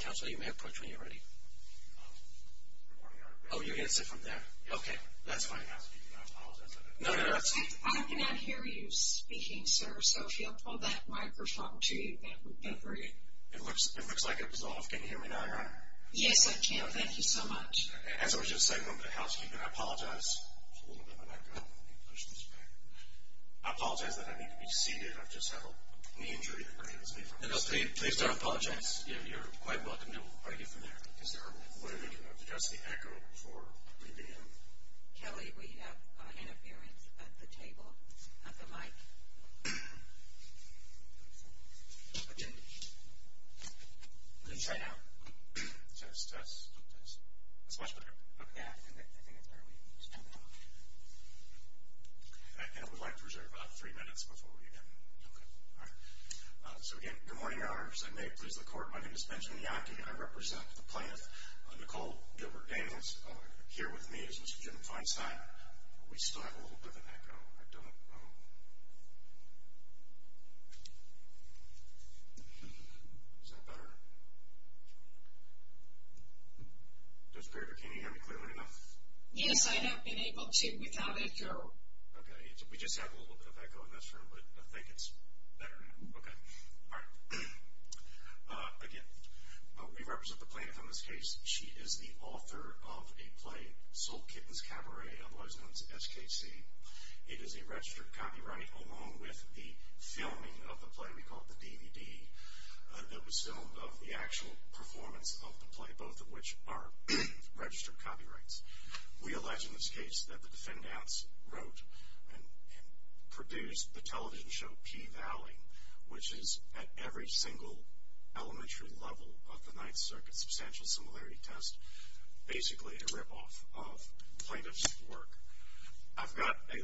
Councilor, you may approach when you're ready. Oh, you're going to sit from there? Okay, that's fine. I cannot hear you speaking, sir, so if you'll pull that microphone to you, that would be great. It looks like it was off. Can you hear me now, Your Honor? Yes, I can. Thank you so much. As I was just saying to the housekeeper, I apologize. There's a little bit of an echo. Let me push this back. I apologize that I need to be seated. I've just had a knee injury. Please don't apologize. You're quite welcome to argue from there. Is there a way we can adjust the echo before we begin? Kelly, we have interference at the table, at the mic. Let me try now. Test, test, test. That's much better. I think it's early. It's too early. I would like to reserve about three minutes before we begin. So, again, good morning, Your Honors. I may please the Court. My name is Benjamin Yockey. I represent the plaintiff, Nicole Gilbert-Daniels. Here with me is Mr. Jim Feinstein. We still have a little bit of an echo. I don't know. Is that better? That's better. Does the peripheral can you hear me clearly enough? Yes, I have been able to without echo. Okay. We just have a little bit of echo in this room, but I think it's better now. Okay. All right. Again, we represent the plaintiff in this case. She is the author of a play, Soul Kittens Cabaret, otherwise known as SKC. It is a registered copyright along with the filming of the play. We call it the DVD that was filmed of the actual performance of the play, both of which are registered copyrights. We allege in this case that the defendants wrote and produced the television show Pea Valley, which is at every single elementary level of the Ninth Circuit substantial similarity test, basically a ripoff of plaintiff's work. I've got a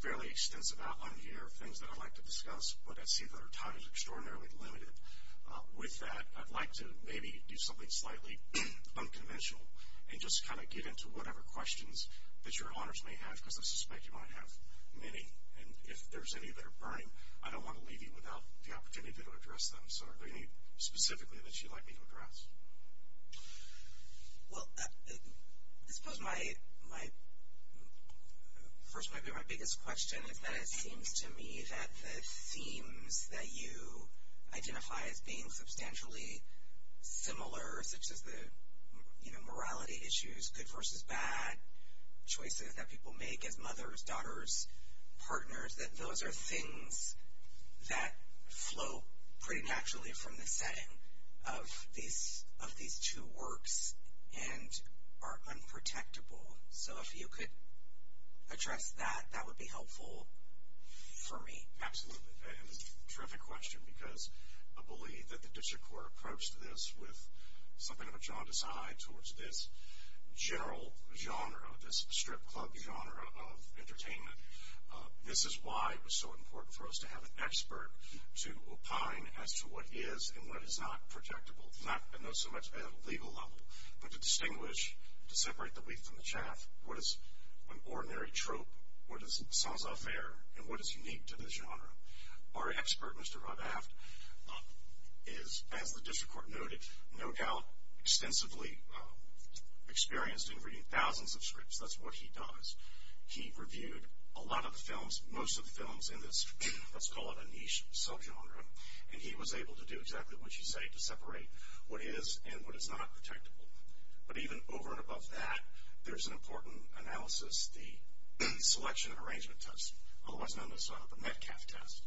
fairly extensive outline here of things that I'd like to discuss, but I see that our time is extraordinarily limited. With that, I'd like to maybe do something slightly unconventional and just kind of get into whatever questions that your honors may have, because I suspect you might have many. And if there's any that are burning, I don't want to leave you without the opportunity to address them. So are there any specifically that you'd like me to address? Well, I suppose my first and maybe my biggest question is that it seems to me that the themes that you identify as being substantially similar, such as the morality issues, good versus bad, choices that people make as mothers, daughters, partners, that those are things that flow pretty naturally from the setting of these two works and are unprotectable. So if you could address that, that would be helpful for me. Absolutely. And it's a terrific question because I believe that the district court approached this with something of a jaundice eye towards this general genre, this strip club genre of entertainment. This is why it was so important for us to have an expert to opine as to what is and what is not projectable, not so much at a legal level, but to distinguish, to separate the wheat from the chaff. What is an ordinary trope? What is sans affair? And what is unique to this genre? Our expert, Mr. Rudd-Aft, is, as the district court noted, no doubt extensively experienced in reading thousands of scripts. That's what he does. He reviewed a lot of the films, most of the films in this, let's call it a niche sub-genre, and he was able to do exactly what you say to separate what is and what is not projectable. But even over and above that, there's an important analysis, the selection and arrangement test, otherwise known as the Metcalf test.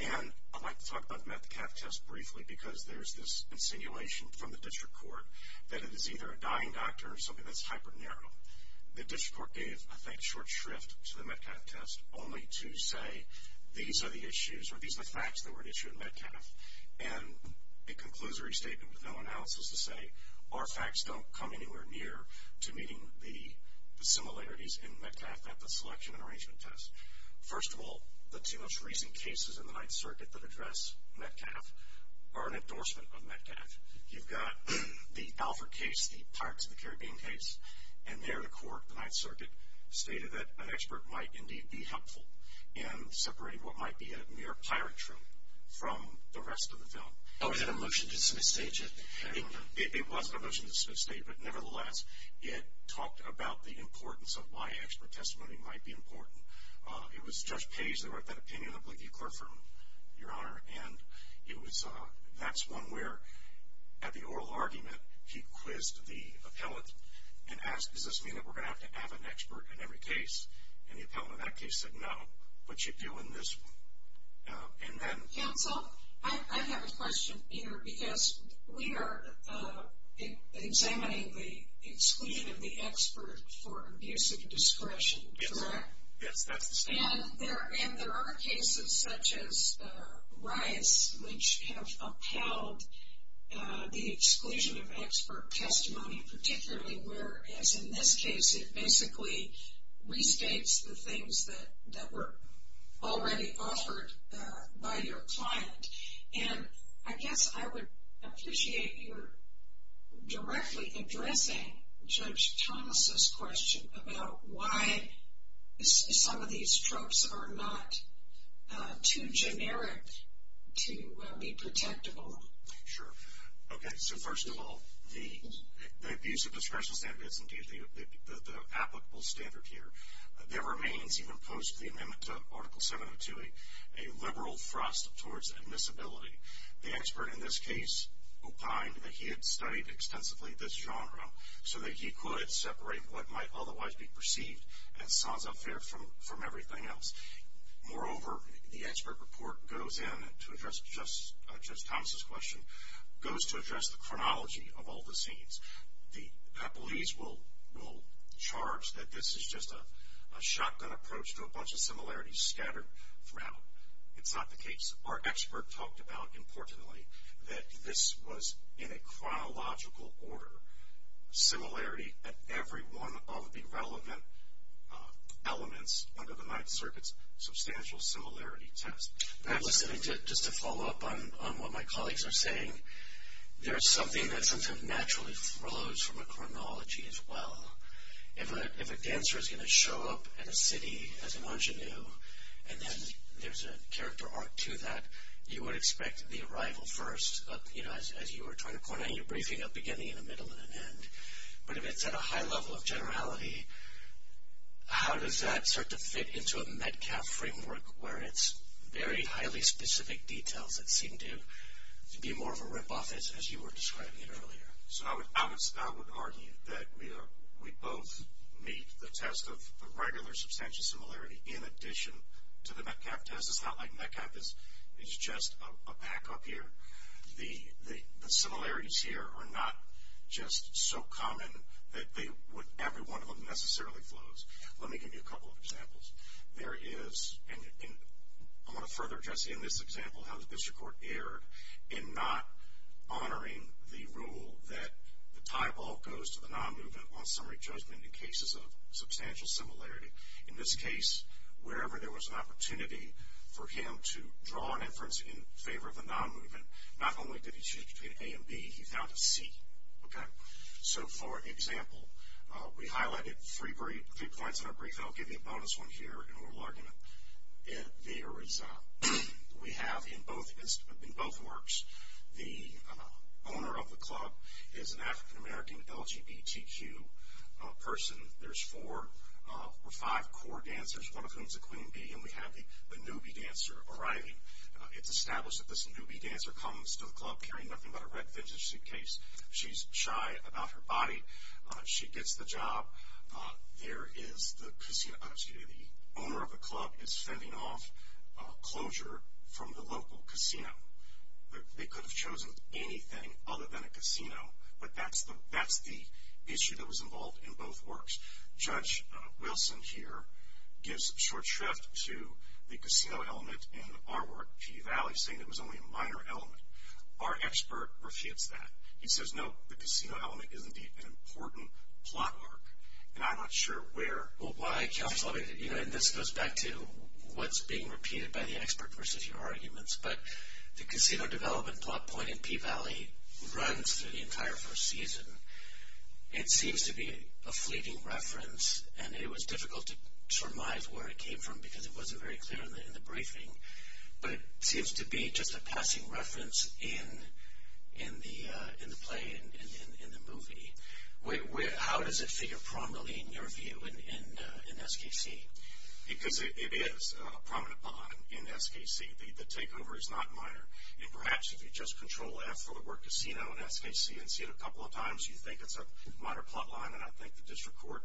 And I'd like to talk about the Metcalf test briefly because there's this insinuation from the district court that it is either a dying doctor or something that's hyper-narrow. The district court gave, I think, short shrift to the Metcalf test only to say, these are the issues or these are the facts that were at issue in Metcalf. And it concludes a restatement with no analysis to say, our facts don't come anywhere near to meeting the similarities in Metcalf at the selection and arrangement test. First of all, the two most recent cases in the Ninth Circuit that address Metcalf are an endorsement of Metcalf. You've got the Alford case, the Pirates of the Caribbean case, and there the court, the Ninth Circuit, stated that an expert might indeed be helpful in separating what might be a mere pirate troop from the rest of the film. Oh, was that a motion to dismiss the agent? It was a motion to dismiss the agent, but nevertheless, it talked about the importance of why expert testimony might be important. It was Judge Page that wrote that opinion, I believe you, Clare, for your honor, and that's one where, at the oral argument, he quizzed the appellant and asked, does this mean that we're going to have to have an expert in every case? And the appellant in that case said, no, but you do in this one. Counsel, I have a question, Peter, because we are examining the exclusion of the expert for abuse of discretion, correct? Yes, that's the statement. And there are cases such as Rice which have upheld the exclusion of expert testimony, particularly where, as in this case, it basically restates the things that were already offered by your client. And I guess I would appreciate your directly addressing Judge Thomas' question about why some of these tropes are not too generic to be protectable. Sure. Okay, so first of all, the abuse of discretion standard is indeed the applicable standard here. There remains, even post the amendment to Article 702, a liberal thrust towards admissibility. The expert in this case opined that he had studied extensively this genre so that he could separate what might otherwise be perceived as sans affair from everything else. Moreover, the expert report goes in, to address Judge Thomas' question, goes to address the chronology of all the scenes. The appellees will charge that this is just a shotgun approach to a bunch of similarities scattered throughout. It's not the case. Our expert talked about, importantly, that this was in a chronological order. Similarity at every one of the relevant elements under the Ninth Circuit's substantial similarity test. Just to follow up on what my colleagues are saying, there is something that sometimes naturally flows from a chronology as well. If a dancer is going to show up at a city as an ingenue, and then there's a character arc to that, you would expect the arrival first, as you were trying to point out in your briefing, a beginning, a middle, and an end. But if it's at a high level of generality, how does that start to fit into a Metcalf framework where it's very highly specific details that seem to be more of a rip-off as you were describing it earlier? So I would argue that we both meet the test of regular substantial similarity in addition to the Metcalf test. It's not like Metcalf is just a pack up here. The similarities here are not just so common that every one of them necessarily flows. Let me give you a couple of examples. There is, and I want to further address in this example, how the district court erred in not honoring the rule that the tie ball goes to the non-movement on summary judgment in cases of substantial similarity. In this case, wherever there was an opportunity for him to draw an inference in favor of a non-movement, not only did he choose between A and B, he found a C. So for example, we highlighted three points in our brief, and I'll give you a bonus one here in a little argument. There is, we have in both works, the owner of the club is an African-American LGBTQ person. There's four or five core dancers, one of whom is a queen bee, and we have the newbie dancer arriving. It's established that this newbie dancer comes to the club carrying nothing but a red vintage suitcase. She's shy about her body. She gets the job. There is the casino, excuse me, the owner of the club is fending off closure from the local casino. They could have chosen anything other than a casino, but that's the issue that was involved in both works. Judge Wilson here gives short shrift to the casino element in our work, Pea Valley, saying it was only a minor element. Our expert refutes that. He says, no, the casino element is indeed an important plot arc, and I'm not sure where. Well, I can't solve it, and this goes back to what's being repeated by the expert versus your arguments, but the casino development plot point in Pea Valley runs through the entire first season. It seems to be a fleeting reference, and it was difficult to surmise where it came from because it wasn't very clear in the briefing, but it seems to be just a passing reference in the play and in the movie. How does it figure prominently in your view in SKC? Because it is a prominent bond in SKC. The takeover is not minor, and perhaps if you just control F for the word casino in SKC and see it a couple of times, you think it's a minor plot line, and I think the district court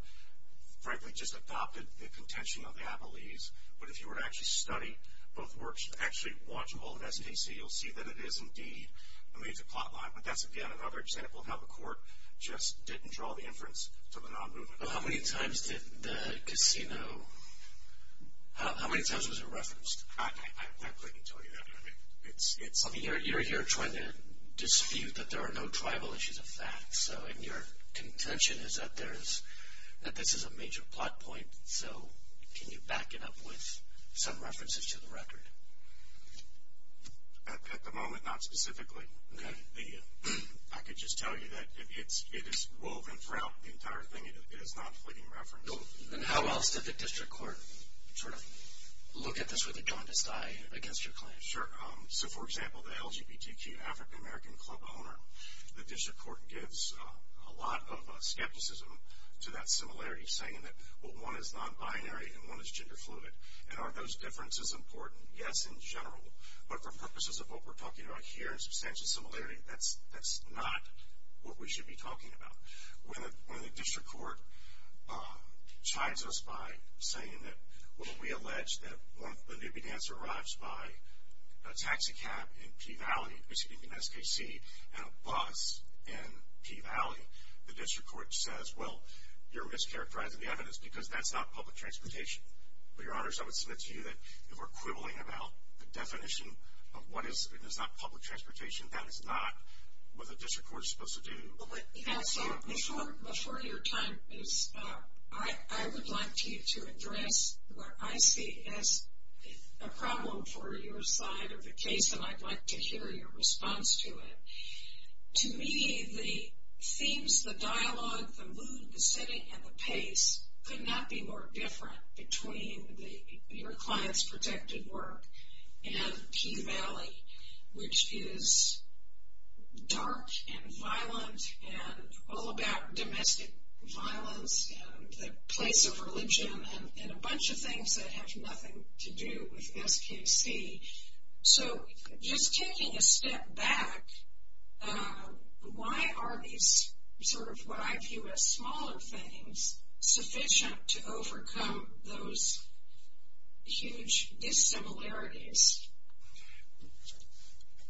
frankly just adopted the contention of the Abilese, but if you were to actually study both works and actually watch all of SKC, you'll see that it is indeed a major plot line, but that's again another example of how the court just didn't draw the inference to the non-movement. How many times was it referenced? I couldn't tell you that. You're here trying to dispute that there are no tribal issues of fact, so your contention is that this is a major plot point, so can you back it up with some references to the record? At the moment, not specifically. I could just tell you that it is woven throughout the entire thing. It is not fleeting reference. Then how else did the district court sort of look at this with a jaundiced eye against your claim? Sure. So, for example, the LGBTQ African American club owner, the district court gives a lot of skepticism to that similarity, saying that, well, one is non-binary and one is gender fluid, and are those differences important? Yes, in general. But for purposes of what we're talking about here in substantial similarity, that's not what we should be talking about. When the district court chides us by saying that, well, we allege that when the newbie dancer arrives by a taxi cab in Pea Valley, speaking of SKC, and a bus in Pea Valley, the district court says, well, you're mischaracterizing the evidence because that's not public transportation. But, Your Honors, I would submit to you that if we're quibbling about the definition of what is and is not public transportation, that is not what the district court is supposed to do. Before your time is up, I would like you to address what I see as a problem for your side of the case, and I'd like to hear your response to it. To me, the themes, the dialogue, the mood, the setting, and the pace could not be more different between your client's protected work and Pea Valley, which is dark and violent and all about domestic violence and the place of religion and a bunch of things that have nothing to do with SKC. So, just taking a step back, why are these, sort of what I view as smaller things, sufficient to overcome those huge dissimilarities?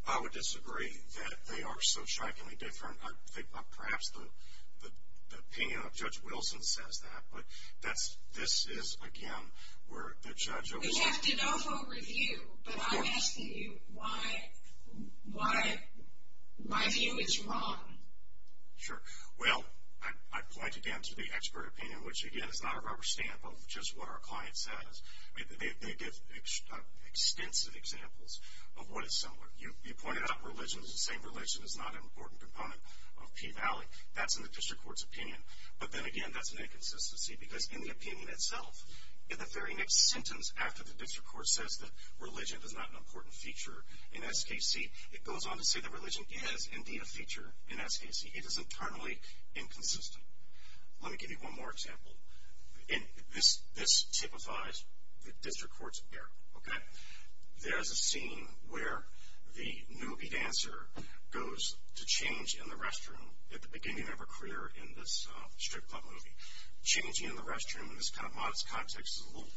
I would disagree that they are so shockingly different. Perhaps the opinion of Judge Wilson says that, but this is, again, where the judge oversees. You have to know for a review, but I'm asking you why my view is wrong. Sure. Well, I point again to the expert opinion, which, again, is not a rubber stamp of just what our client says. They give extensive examples of what is similar. You pointed out religion is the same religion is not an important component of Pea Valley. That's in the district court's opinion, but then again, that's an inconsistency because in the opinion itself, in the very next sentence, after the district court says that religion is not an important feature in SKC, it goes on to say that religion is indeed a feature in SKC. It is internally inconsistent. Let me give you one more example, and this typifies the district court's error, okay? There's a scene where the newbie dancer goes to change in the restroom at the beginning of her career in this strip club movie. Changing in the restroom in this kind of modest context is a little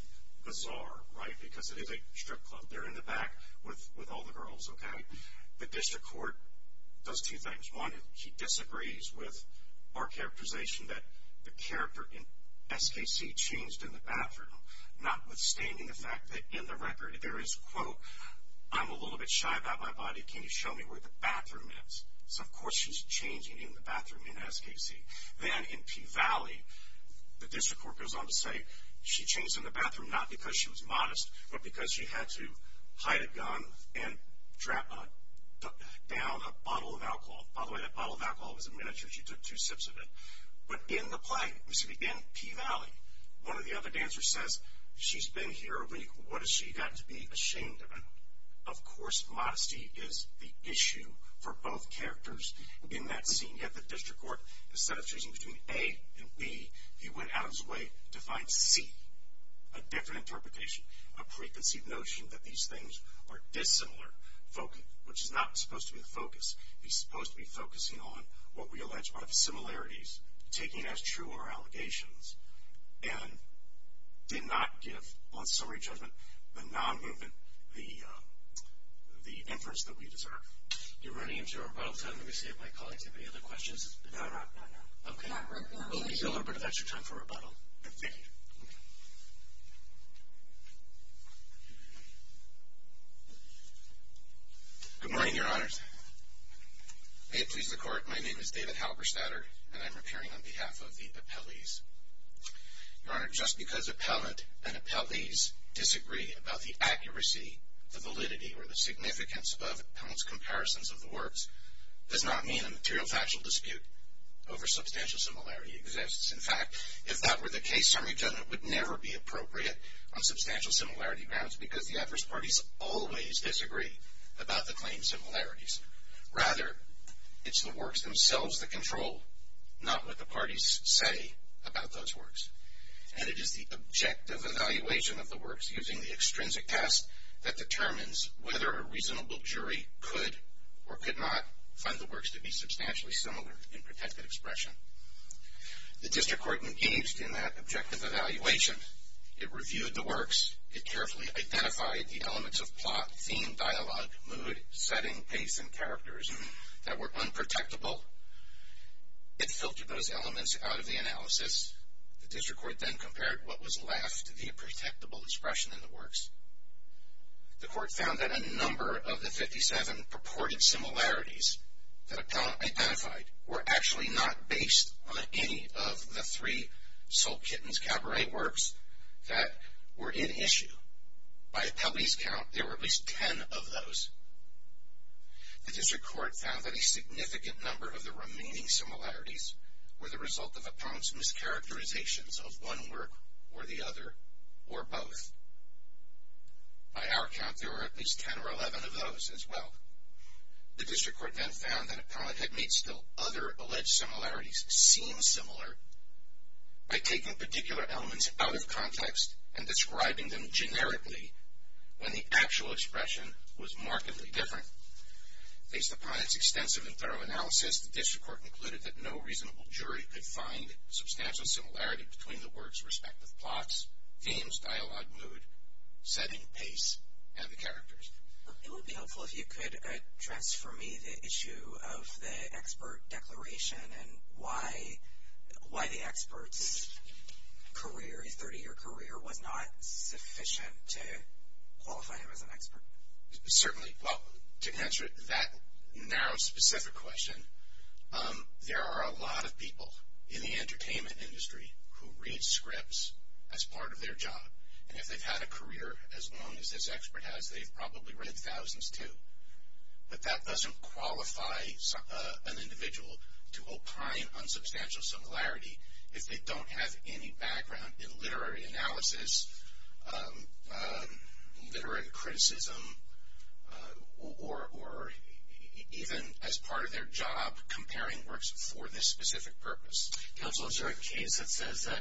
bizarre, right, because it is a strip club. They're in the back with all the girls, okay? The district court does two things. One, she disagrees with our characterization that the character in SKC changed in the bathroom, notwithstanding the fact that in the record there is, quote, I'm a little bit shy about my body. Can you show me where the bathroom is? So, of course, she's changing in the bathroom in SKC. Then in Pea Valley, the district court goes on to say she changed in the bathroom not because she was modest but because she had to hide a gun and drop down a bottle of alcohol. By the way, that bottle of alcohol was a miniature. She took two sips of it. But in the play, in Pea Valley, one of the other dancers says she's been here a week. What has she got to be ashamed of? Of course, modesty is the issue for both characters in that scene. Yet the district court, instead of choosing between A and B, he went out of his way to find C, a different interpretation, a preconceived notion that these things are dissimilar, which is not supposed to be the focus. He's supposed to be focusing on what we allege are similarities, taking as true our allegations, and did not give, on summary judgment, the non-movement, the inference that we deserve. You're running into rebuttal time. Let me see if my colleagues have any other questions. No, not right now. Okay. We'll give you a little bit of extra time for rebuttal. Thank you. Good morning, Your Honors. May it please the Court, my name is David Halberstadter, and I'm appearing on behalf of the appellees. Your Honor, just because appellant and appellees disagree about the accuracy, the validity, or the significance of appellant's comparisons of the works, does not mean a material factual dispute over substantial similarity exists. In fact, if that were the case, summary judgment would never be appropriate on substantial similarity grounds because the adverse parties always disagree about the claimed similarities. Rather, it's the works themselves that control, not what the parties say about those works. And it is the objective evaluation of the works using the extrinsic test that determines whether a reasonable jury could or could not find the works to be substantially similar in protected expression. The district court engaged in that objective evaluation. It reviewed the works. It carefully identified the elements of plot, theme, dialogue, mood, setting, pace, and characters that were unprotectable. It filtered those elements out of the analysis. The district court then compared what was left to the protectable expression in the works. The court found that a number of the 57 purported similarities that appellant identified were actually not based on any of the three Soul Kittens cabaret works that were in issue. By appellee's count, there were at least 10 of those. The district court found that a significant number of the remaining similarities were the result of appellant's mischaracterizations of one work or the other or both. By our count, there were at least 10 or 11 of those as well. The district court then found that appellant had made still other alleged similarities seem similar by taking particular elements out of context and describing them generically when the actual expression was markedly different. Based upon its extensive and thorough analysis, the district court concluded that no reasonable jury could find substantial similarity between the works' respective plots, themes, dialogue, mood, setting, pace, and the characters. It would be helpful if you could address for me the issue of the expert declaration and why the expert's 30-year career was not sufficient to qualify him as an expert. Certainly. Well, to answer that narrow, specific question, there are a lot of people in the entertainment industry who read scripts as part of their job. And if they've had a career as long as this expert has, they've probably read thousands too. But that doesn't qualify an individual to opine on substantial similarity if they don't have any background in literary analysis, literary criticism, or even as part of their job comparing works for this specific purpose. Counsel, is there a case that says that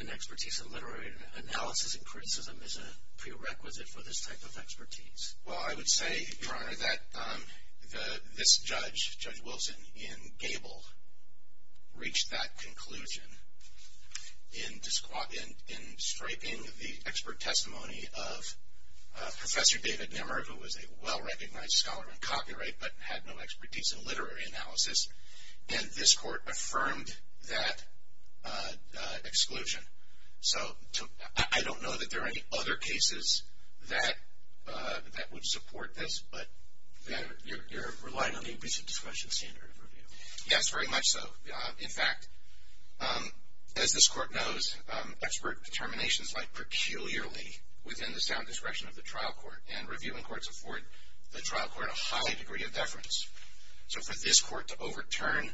an expertise in literary analysis and criticism is a prerequisite for this type of expertise? Well, I would say, Your Honor, that this judge, Judge Wilson in Gable, reached that conclusion in striping the expert testimony of Professor David Nimmer, who was a well-recognized scholar in copyright but had no expertise in literary analysis. And this court affirmed that exclusion. So I don't know that there are any other cases that would support this, but you're relying on the abuse of discretion standard of review. Yes, very much so. In fact, as this court knows, expert determinations lie peculiarly within the sound discretion of the trial court. And reviewing courts afford the trial court a high degree of deference. So for this court to overturn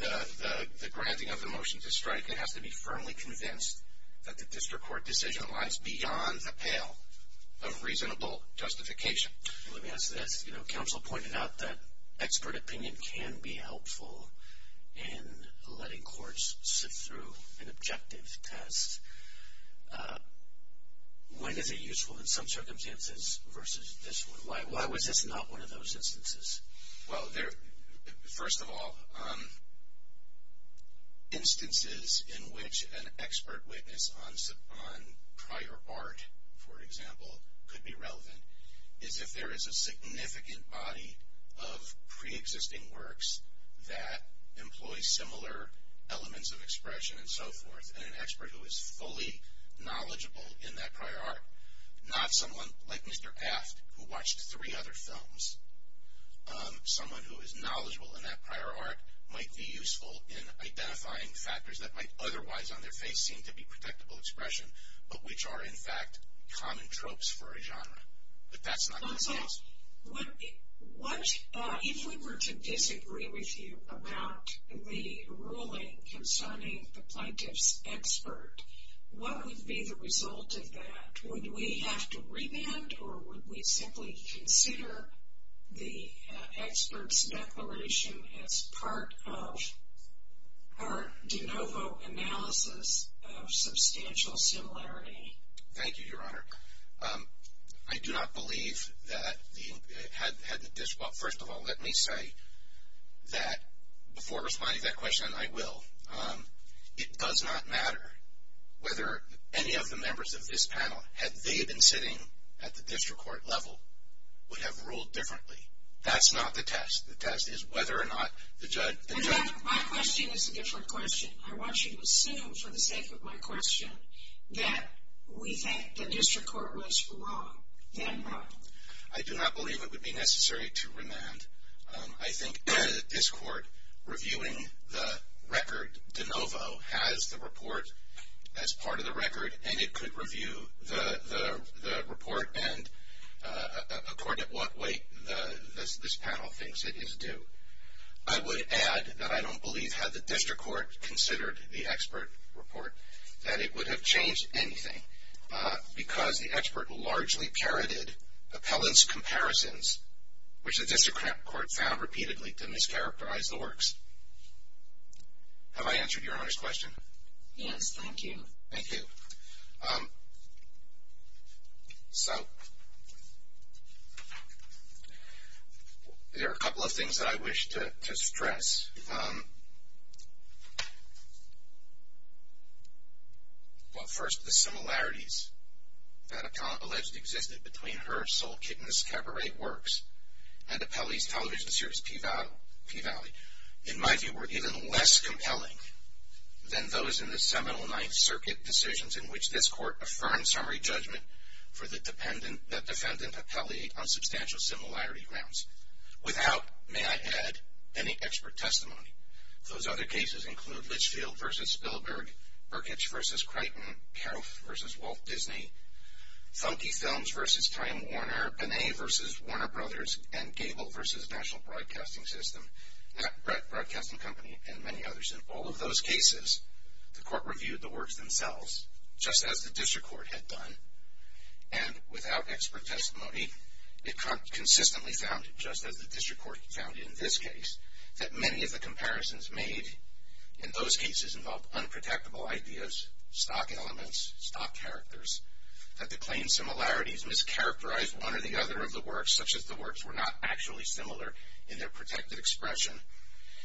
the granting of the motion to strike, it has to be firmly convinced that the district court decision lies beyond the pale of reasonable justification. Let me ask this. You know, counsel pointed out that expert opinion can be helpful in letting courts sit through an objective test. When is it useful in some circumstances versus this one? Why was this not one of those instances? Well, first of all, instances in which an expert witness on prior art, for example, could be relevant, is if there is a significant body of preexisting works that employs similar elements of expression and so forth, and an expert who is fully knowledgeable in that prior art, not someone like Mr. Aft who watched three other films. Someone who is knowledgeable in that prior art might be useful in identifying factors that might otherwise on their face seem to be predictable expression, but which are, in fact, common tropes for a genre. But that's not in this case. If we were to disagree with you about the ruling concerning the plaintiff's expert, what would be the result of that? Would we have to re-bend or would we simply consider the expert's declaration as part of our de novo analysis of substantial similarity? Thank you, Your Honor. I do not believe that the head of the district, well, first of all, let me say that before responding to that question, I will. It does not matter whether any of the members of this panel, had they been sitting at the district court level, would have ruled differently. That's not the test. The test is whether or not the judge can judge. My question is a different question. I want you to assume, for the sake of my question, that we think the district court was wrong, then wrong. I do not believe it would be necessary to remand. I think this court, reviewing the record de novo, has the report as part of the record, and it could review the report and, according to what weight this panel thinks it is due. I would add that I don't believe, had the district court considered the expert report, that it would have changed anything because the expert largely parroted appellant's comparisons, which the district court found repeatedly to mischaracterize the works. Have I answered your Honor's question? Yes, thank you. Thank you. So, there are a couple of things that I wish to stress. Well, first, the similarities that are alleged to have existed between her soul-kidnapped cabaret works and Appellee's television series Pea Valley, in my view, were even less compelling than those in the seminal Ninth Circuit decisions in which this court affirmed summary judgment for the defendant, Appellee, on substantial similarity grounds. Without, may I add, any expert testimony. Those other cases include Litchfield v. Spielberg, Berkich v. Creighton, Kauff v. Walt Disney, Thunke Films v. Time Warner, Binet v. Warner Brothers, and Gable v. National Broadcasting System, Net Broadcasting Company, and many others. In all of those cases, the court reviewed the works themselves, just as the district court had done, and without expert testimony, it consistently found, just as the district court found in this case, that many of the comparisons made in those cases involved unprotectable ideas, stock elements, stock characters, that the claimed similarities mischaracterized one or the other of the works, such as the works were not actually similar in their protected expression,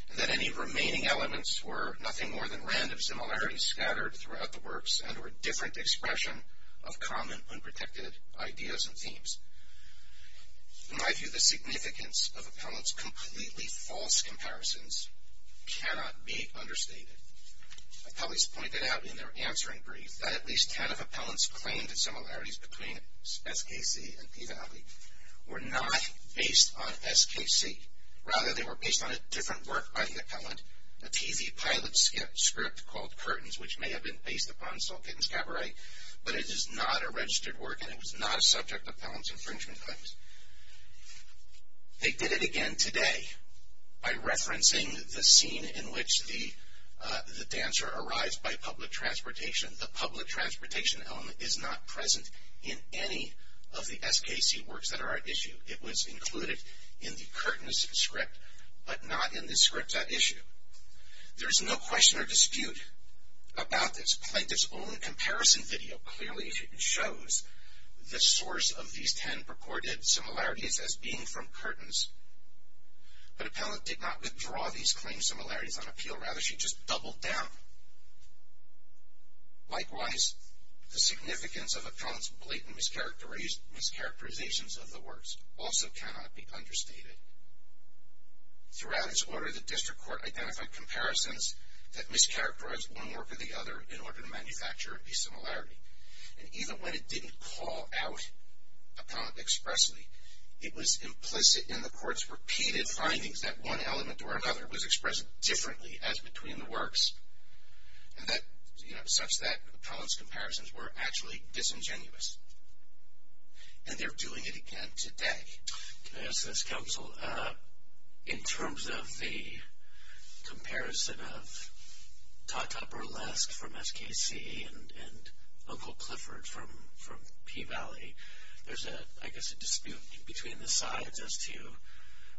and that any remaining elements were nothing more than random similarities scattered throughout the works and were a different expression of common unprotected ideas and themes. In my view, the significance of Appellant's completely false comparisons cannot be understated. Appellees pointed out in their answering brief that at least ten of Appellant's claimed similarities between SKC and Peave Alley were not based on SKC. Rather, they were based on a different work by the Appellant, a TV pilot script called Curtains, which may have been based upon Salt Pittan's Cabaret, but it is not a registered work, and it was not a subject of Appellant's infringement claims. They did it again today by referencing the scene in which the dancer arrives by public transportation. The public transportation element is not present in any of the SKC works that are at issue. It was included in the Curtains script, but not in the script at issue. There is no question or dispute about this. Plaintiff's own comparison video clearly shows the source of these ten purported similarities as being from Curtains, but Appellant did not withdraw these claimed similarities on appeal. Rather, she just doubled down. Likewise, the significance of Appellant's blatant mischaracterizations of the works also cannot be understated. Throughout its order, the District Court identified comparisons that mischaracterized one work or the other in order to manufacture a similarity, and even when it didn't call out Appellant expressly, it was implicit in the Court's repeated findings that one element or another was expressed differently as between the works, such that Appellant's comparisons were actually disingenuous, and they're doing it again today. Can I ask this, Counsel? In terms of the comparison of Tata Burlesque from SKC and Uncle Clifford from Pea Valley, there's, I guess, a dispute between the sides as to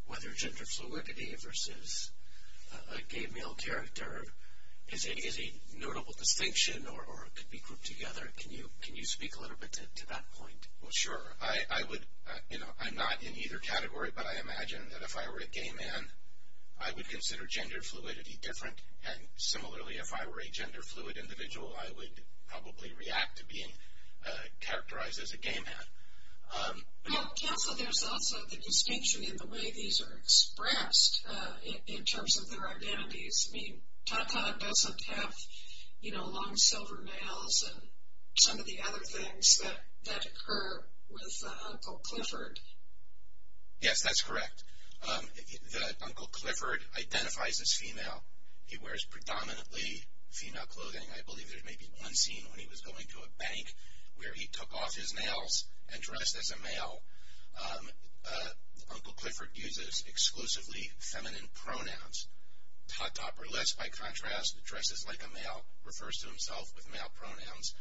whether gender fluidity versus a gay male character is a notable distinction or could be grouped together. Can you speak a little bit to that point? Well, sure. I would, you know, I'm not in either category, but I imagine that if I were a gay man, I would consider gender fluidity different, and similarly, if I were a gender fluid individual, I would probably react to being characterized as a gay man. Counsel, there's also the distinction in the way these are expressed in terms of their identities. I mean, Tata doesn't have, you know, long silver nails and some of the other things that occur with Uncle Clifford. Yes, that's correct. Uncle Clifford identifies as female. He wears predominantly female clothing. I believe there's maybe one scene when he was going to a bank where he took off his nails and dressed as a male. Uncle Clifford uses exclusively feminine pronouns. Todd Topperless, by contrast, dresses like a male, refers to himself with male pronouns,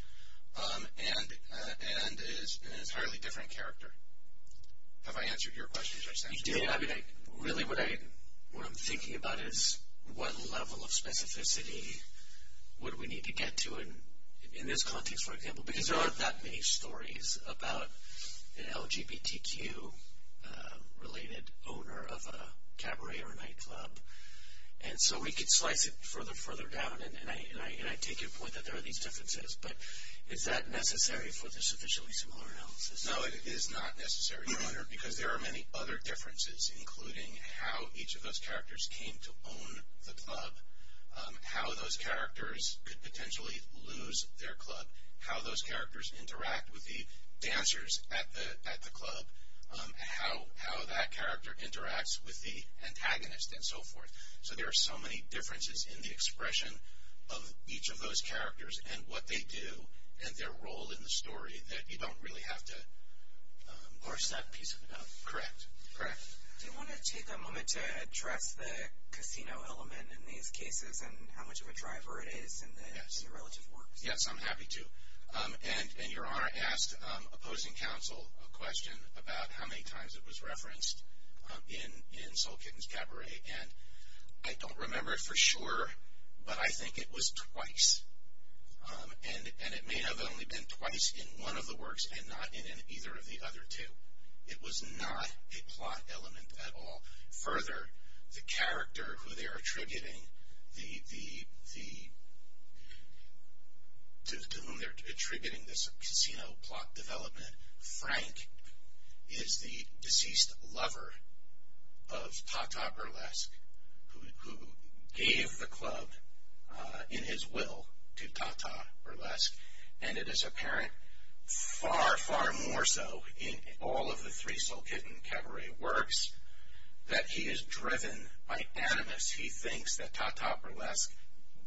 and is an entirely different character. Have I answered your question? You did. I mean, really what I'm thinking about is what level of specificity would we need to get to in this context, for example, because there aren't that many stories about an LGBTQ-related owner of a cabaret or a nightclub, and so we could slice it further down, and I take your point that there are these differences, but is that necessary for the sufficiently similar analysis? No, it is not necessary, Your Honor, because there are many other differences, including how each of those characters came to own the club, how those characters could potentially lose their club, how those characters interact with the dancers at the club, how that character interacts with the antagonist, and so forth. So there are so many differences in the expression of each of those characters and what they do and their role in the story that you don't really have to parse that piece of it out. Correct, correct. Do you want to take a moment to address the casino element in these cases and how much of a driver it is in the relative works? Yes, I'm happy to, and Your Honor asked opposing counsel a question about how many times it was referenced in Soul Kittens Cabaret, and I don't remember it for sure, but I think it was twice, and it may have only been twice in one of the works and not in either of the other two. It was not a plot element at all. Further, the character to whom they're attributing this casino plot development, Frank, is the deceased lover of Tata Burlesque, who gave the club in his will to Tata Burlesque, and it is apparent far, far more so in all of the three Soul Kitten Cabaret works that he is driven by animus. He thinks that Tata Burlesque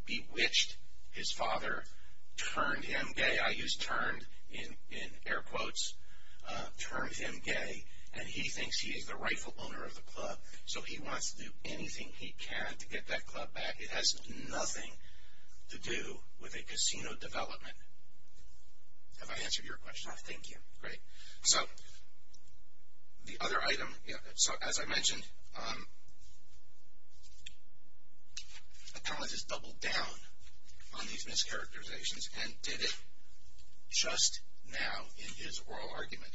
bewitched his father, turned him gay. I use turned in air quotes, turned him gay, and he thinks he is the rightful owner of the club, so he wants to do anything he can to get that club back. It has nothing to do with a casino development. Have I answered your question? No. Thank you. Great. So the other item, as I mentioned, Appellant has doubled down on these mischaracterizations and did it just now in his oral argument.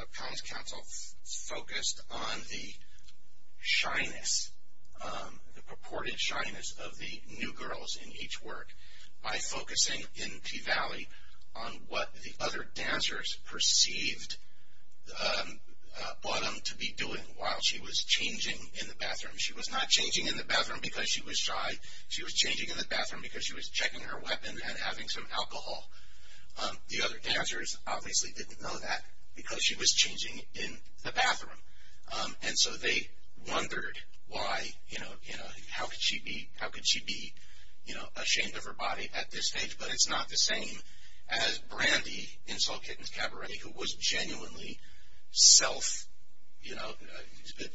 Appellant's counsel focused on the shyness, the purported shyness of the new girls in each work by focusing in Tea Valley on what the other dancers perceived Bottom to be doing while she was changing in the bathroom. She was not changing in the bathroom because she was shy. She was changing in the bathroom because she was checking her weapon and having some alcohol. The other dancers obviously didn't know that because she was changing in the bathroom, and so they wondered how could she be ashamed of her body at this stage, but it's not the same as Brandy in Soul Kittens Cabaret who was genuinely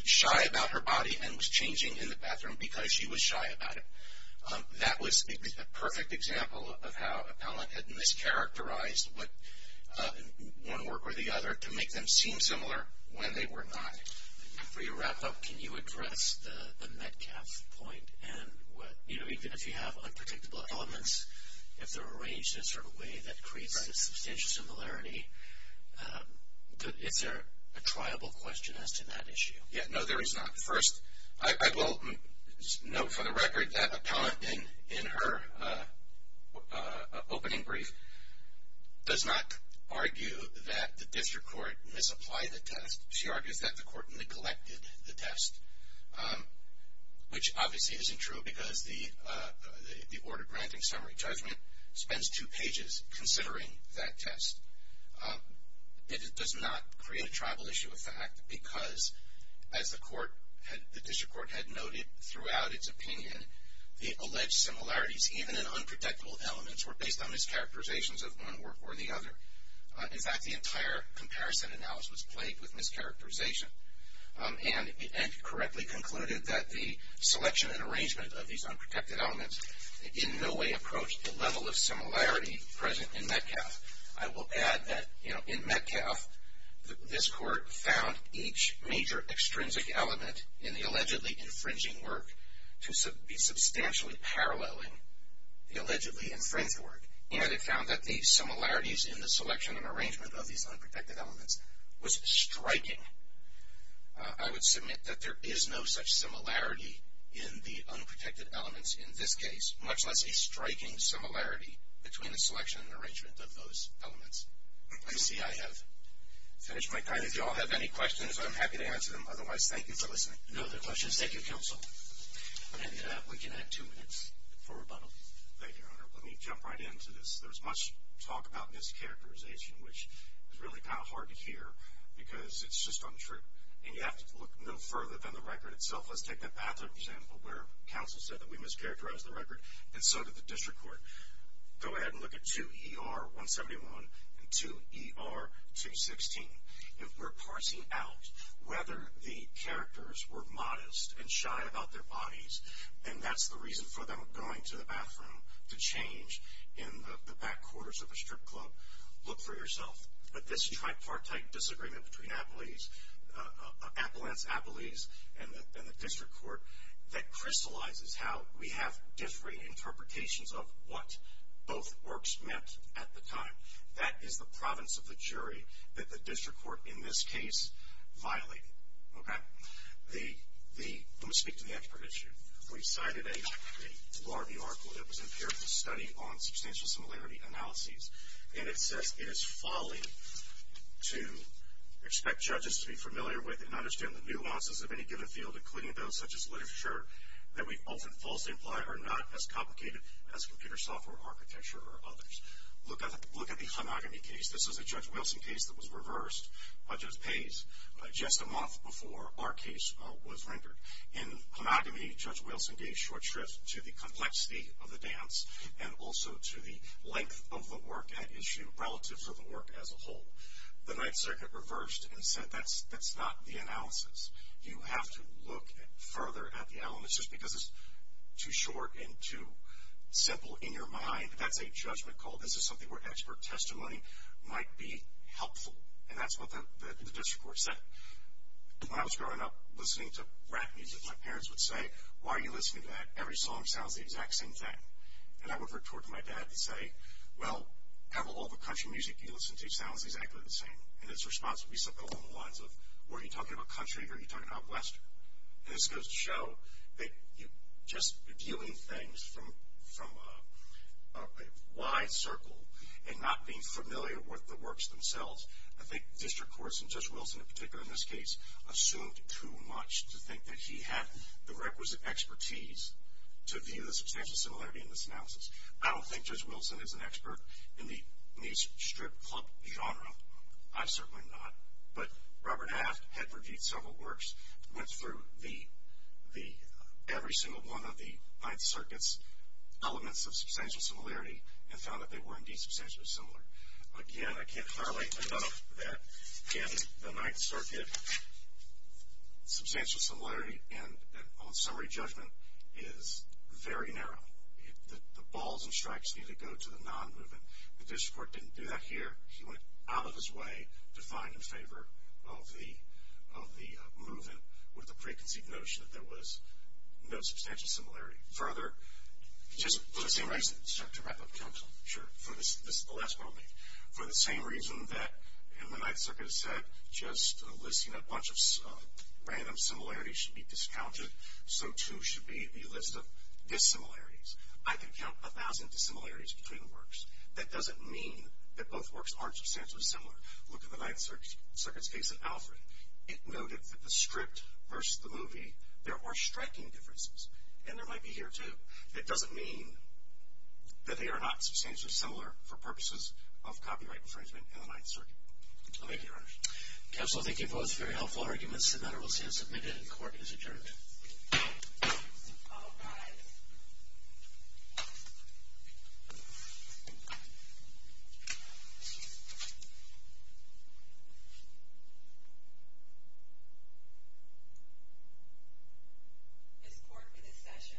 shy about her body and was changing in the bathroom because she was shy about it. That was a perfect example of how Appellant had mischaracterized one work or the other to make them seem similar when they were not. Before you wrap up, can you address the Metcalfe point? Even if you have unpredictable elements, if they're arranged in a sort of way that creates a substantial similarity, is there a triable question as to that issue? No, there is not. First, I will note for the record that Appellant in her opening brief does not argue that the district court misapplied the test. She argues that the court neglected the test, which obviously isn't true because the order granting summary judgment spends two pages considering that test. It does not create a triable issue of fact because, as the district court had noted throughout its opinion, the alleged similarities even in unpredictable elements were based on mischaracterizations of one work or the other. In fact, the entire comparison analysis was plagued with mischaracterization and correctly concluded that the selection and arrangement of these unprotected elements in no way approached the level of similarity present in Metcalfe. I will add that in Metcalfe, this court found each major extrinsic element in the allegedly infringing work to be substantially paralleling the allegedly infringed work, and it found that the similarities in the selection and arrangement of these unprotected elements was striking. I would submit that there is no such similarity in the unprotected elements in this case, much less a striking similarity between the selection and arrangement of those elements. I see I have finished my time. If you all have any questions, I'm happy to answer them. Otherwise, thank you for listening. No other questions. Thank you, Counsel. And we can have two minutes for rebuttal. Thank you, Your Honor. Let me jump right into this. There's much talk about mischaracterization, which is really kind of hard to hear because it's just untrue, and you have to look no further than the record itself. Let's take the bathroom example where Counsel said that we mischaracterized the record, and so did the district court. Go ahead and look at 2ER-171 and 2ER-216. If we're parsing out whether the characters were modest and shy about their bodies, and that's the reason for them going to the bathroom to change in the back quarters of a strip club, look for yourself. But this tripartite disagreement between Appellant's, Appellee's, and the district court, that crystallizes how we have differing interpretations of what both works meant at the time. That is the province of the jury that the district court, in this case, violated. Okay? Let me speak to the expert issue. We cited a larvae article that was in peer-reviewed study on substantial similarity analyses, and it says it is folly to expect judges to be familiar with and understand the nuances of any given field, including those such as literature, that we often falsely imply are not as complicated as computer software architecture or others. Look at the homogamy case. This is a Judge Wilson case that was reversed by Judge Pays just a month before our case was rendered. In homogamy, Judge Wilson gave short shrift to the complexity of the dance and also to the length of the work at issue relative to the work as a whole. The Ninth Circuit reversed and said that's not the analysis. You have to look further at the elements. Just because it's too short and too simple in your mind, that's a judgment call. This is something where expert testimony might be helpful, and that's what the district court said. When I was growing up, listening to rap music, my parents would say, why are you listening to that? Every song sounds the exact same thing. And I would revert to my dad and say, well, all the country music you listen to sounds exactly the same. And his response would be something along the lines of, were you talking about country or were you talking about western? And this goes to show that just viewing things from a wide circle and not being familiar with the works themselves, I think district courts, and Judge Wilson in particular in this case, assumed too much to think that he had the requisite expertise to view the substantial similarity in this analysis. I don't think Judge Wilson is an expert in the strip club genre. I'm certainly not. But Robert Aft had reviewed several works, went through every single one of the Ninth Circuit's elements of substantial similarity and found that they were indeed substantially similar. Again, I can't highlight enough that in the Ninth Circuit, substantial similarity on summary judgment is very narrow. The balls and strikes need to go to the non-movement. The district court didn't do that here. He went out of his way to find in favor of the movement with the preconceived notion that there was no substantial similarity. Further, just for the same reason, this is the last one I'll make, for the same reason that in the Ninth Circuit it said just listing a bunch of random similarities should be discounted, so too should be the list of dissimilarities. I can count a thousand dissimilarities between works. That doesn't mean that both works aren't substantially similar. Look at the Ninth Circuit's case in Alfred. It noted that the script versus the movie, there are striking differences and there might be here, too. It doesn't mean that they are not substantially similar for purposes of copyright infringement in the Ninth Circuit. Thank you, Your Honor. Counsel, thank you both. Very helpful arguments. The matter will stand submitted and court is adjourned. All rise. This court for this session stands adjourned.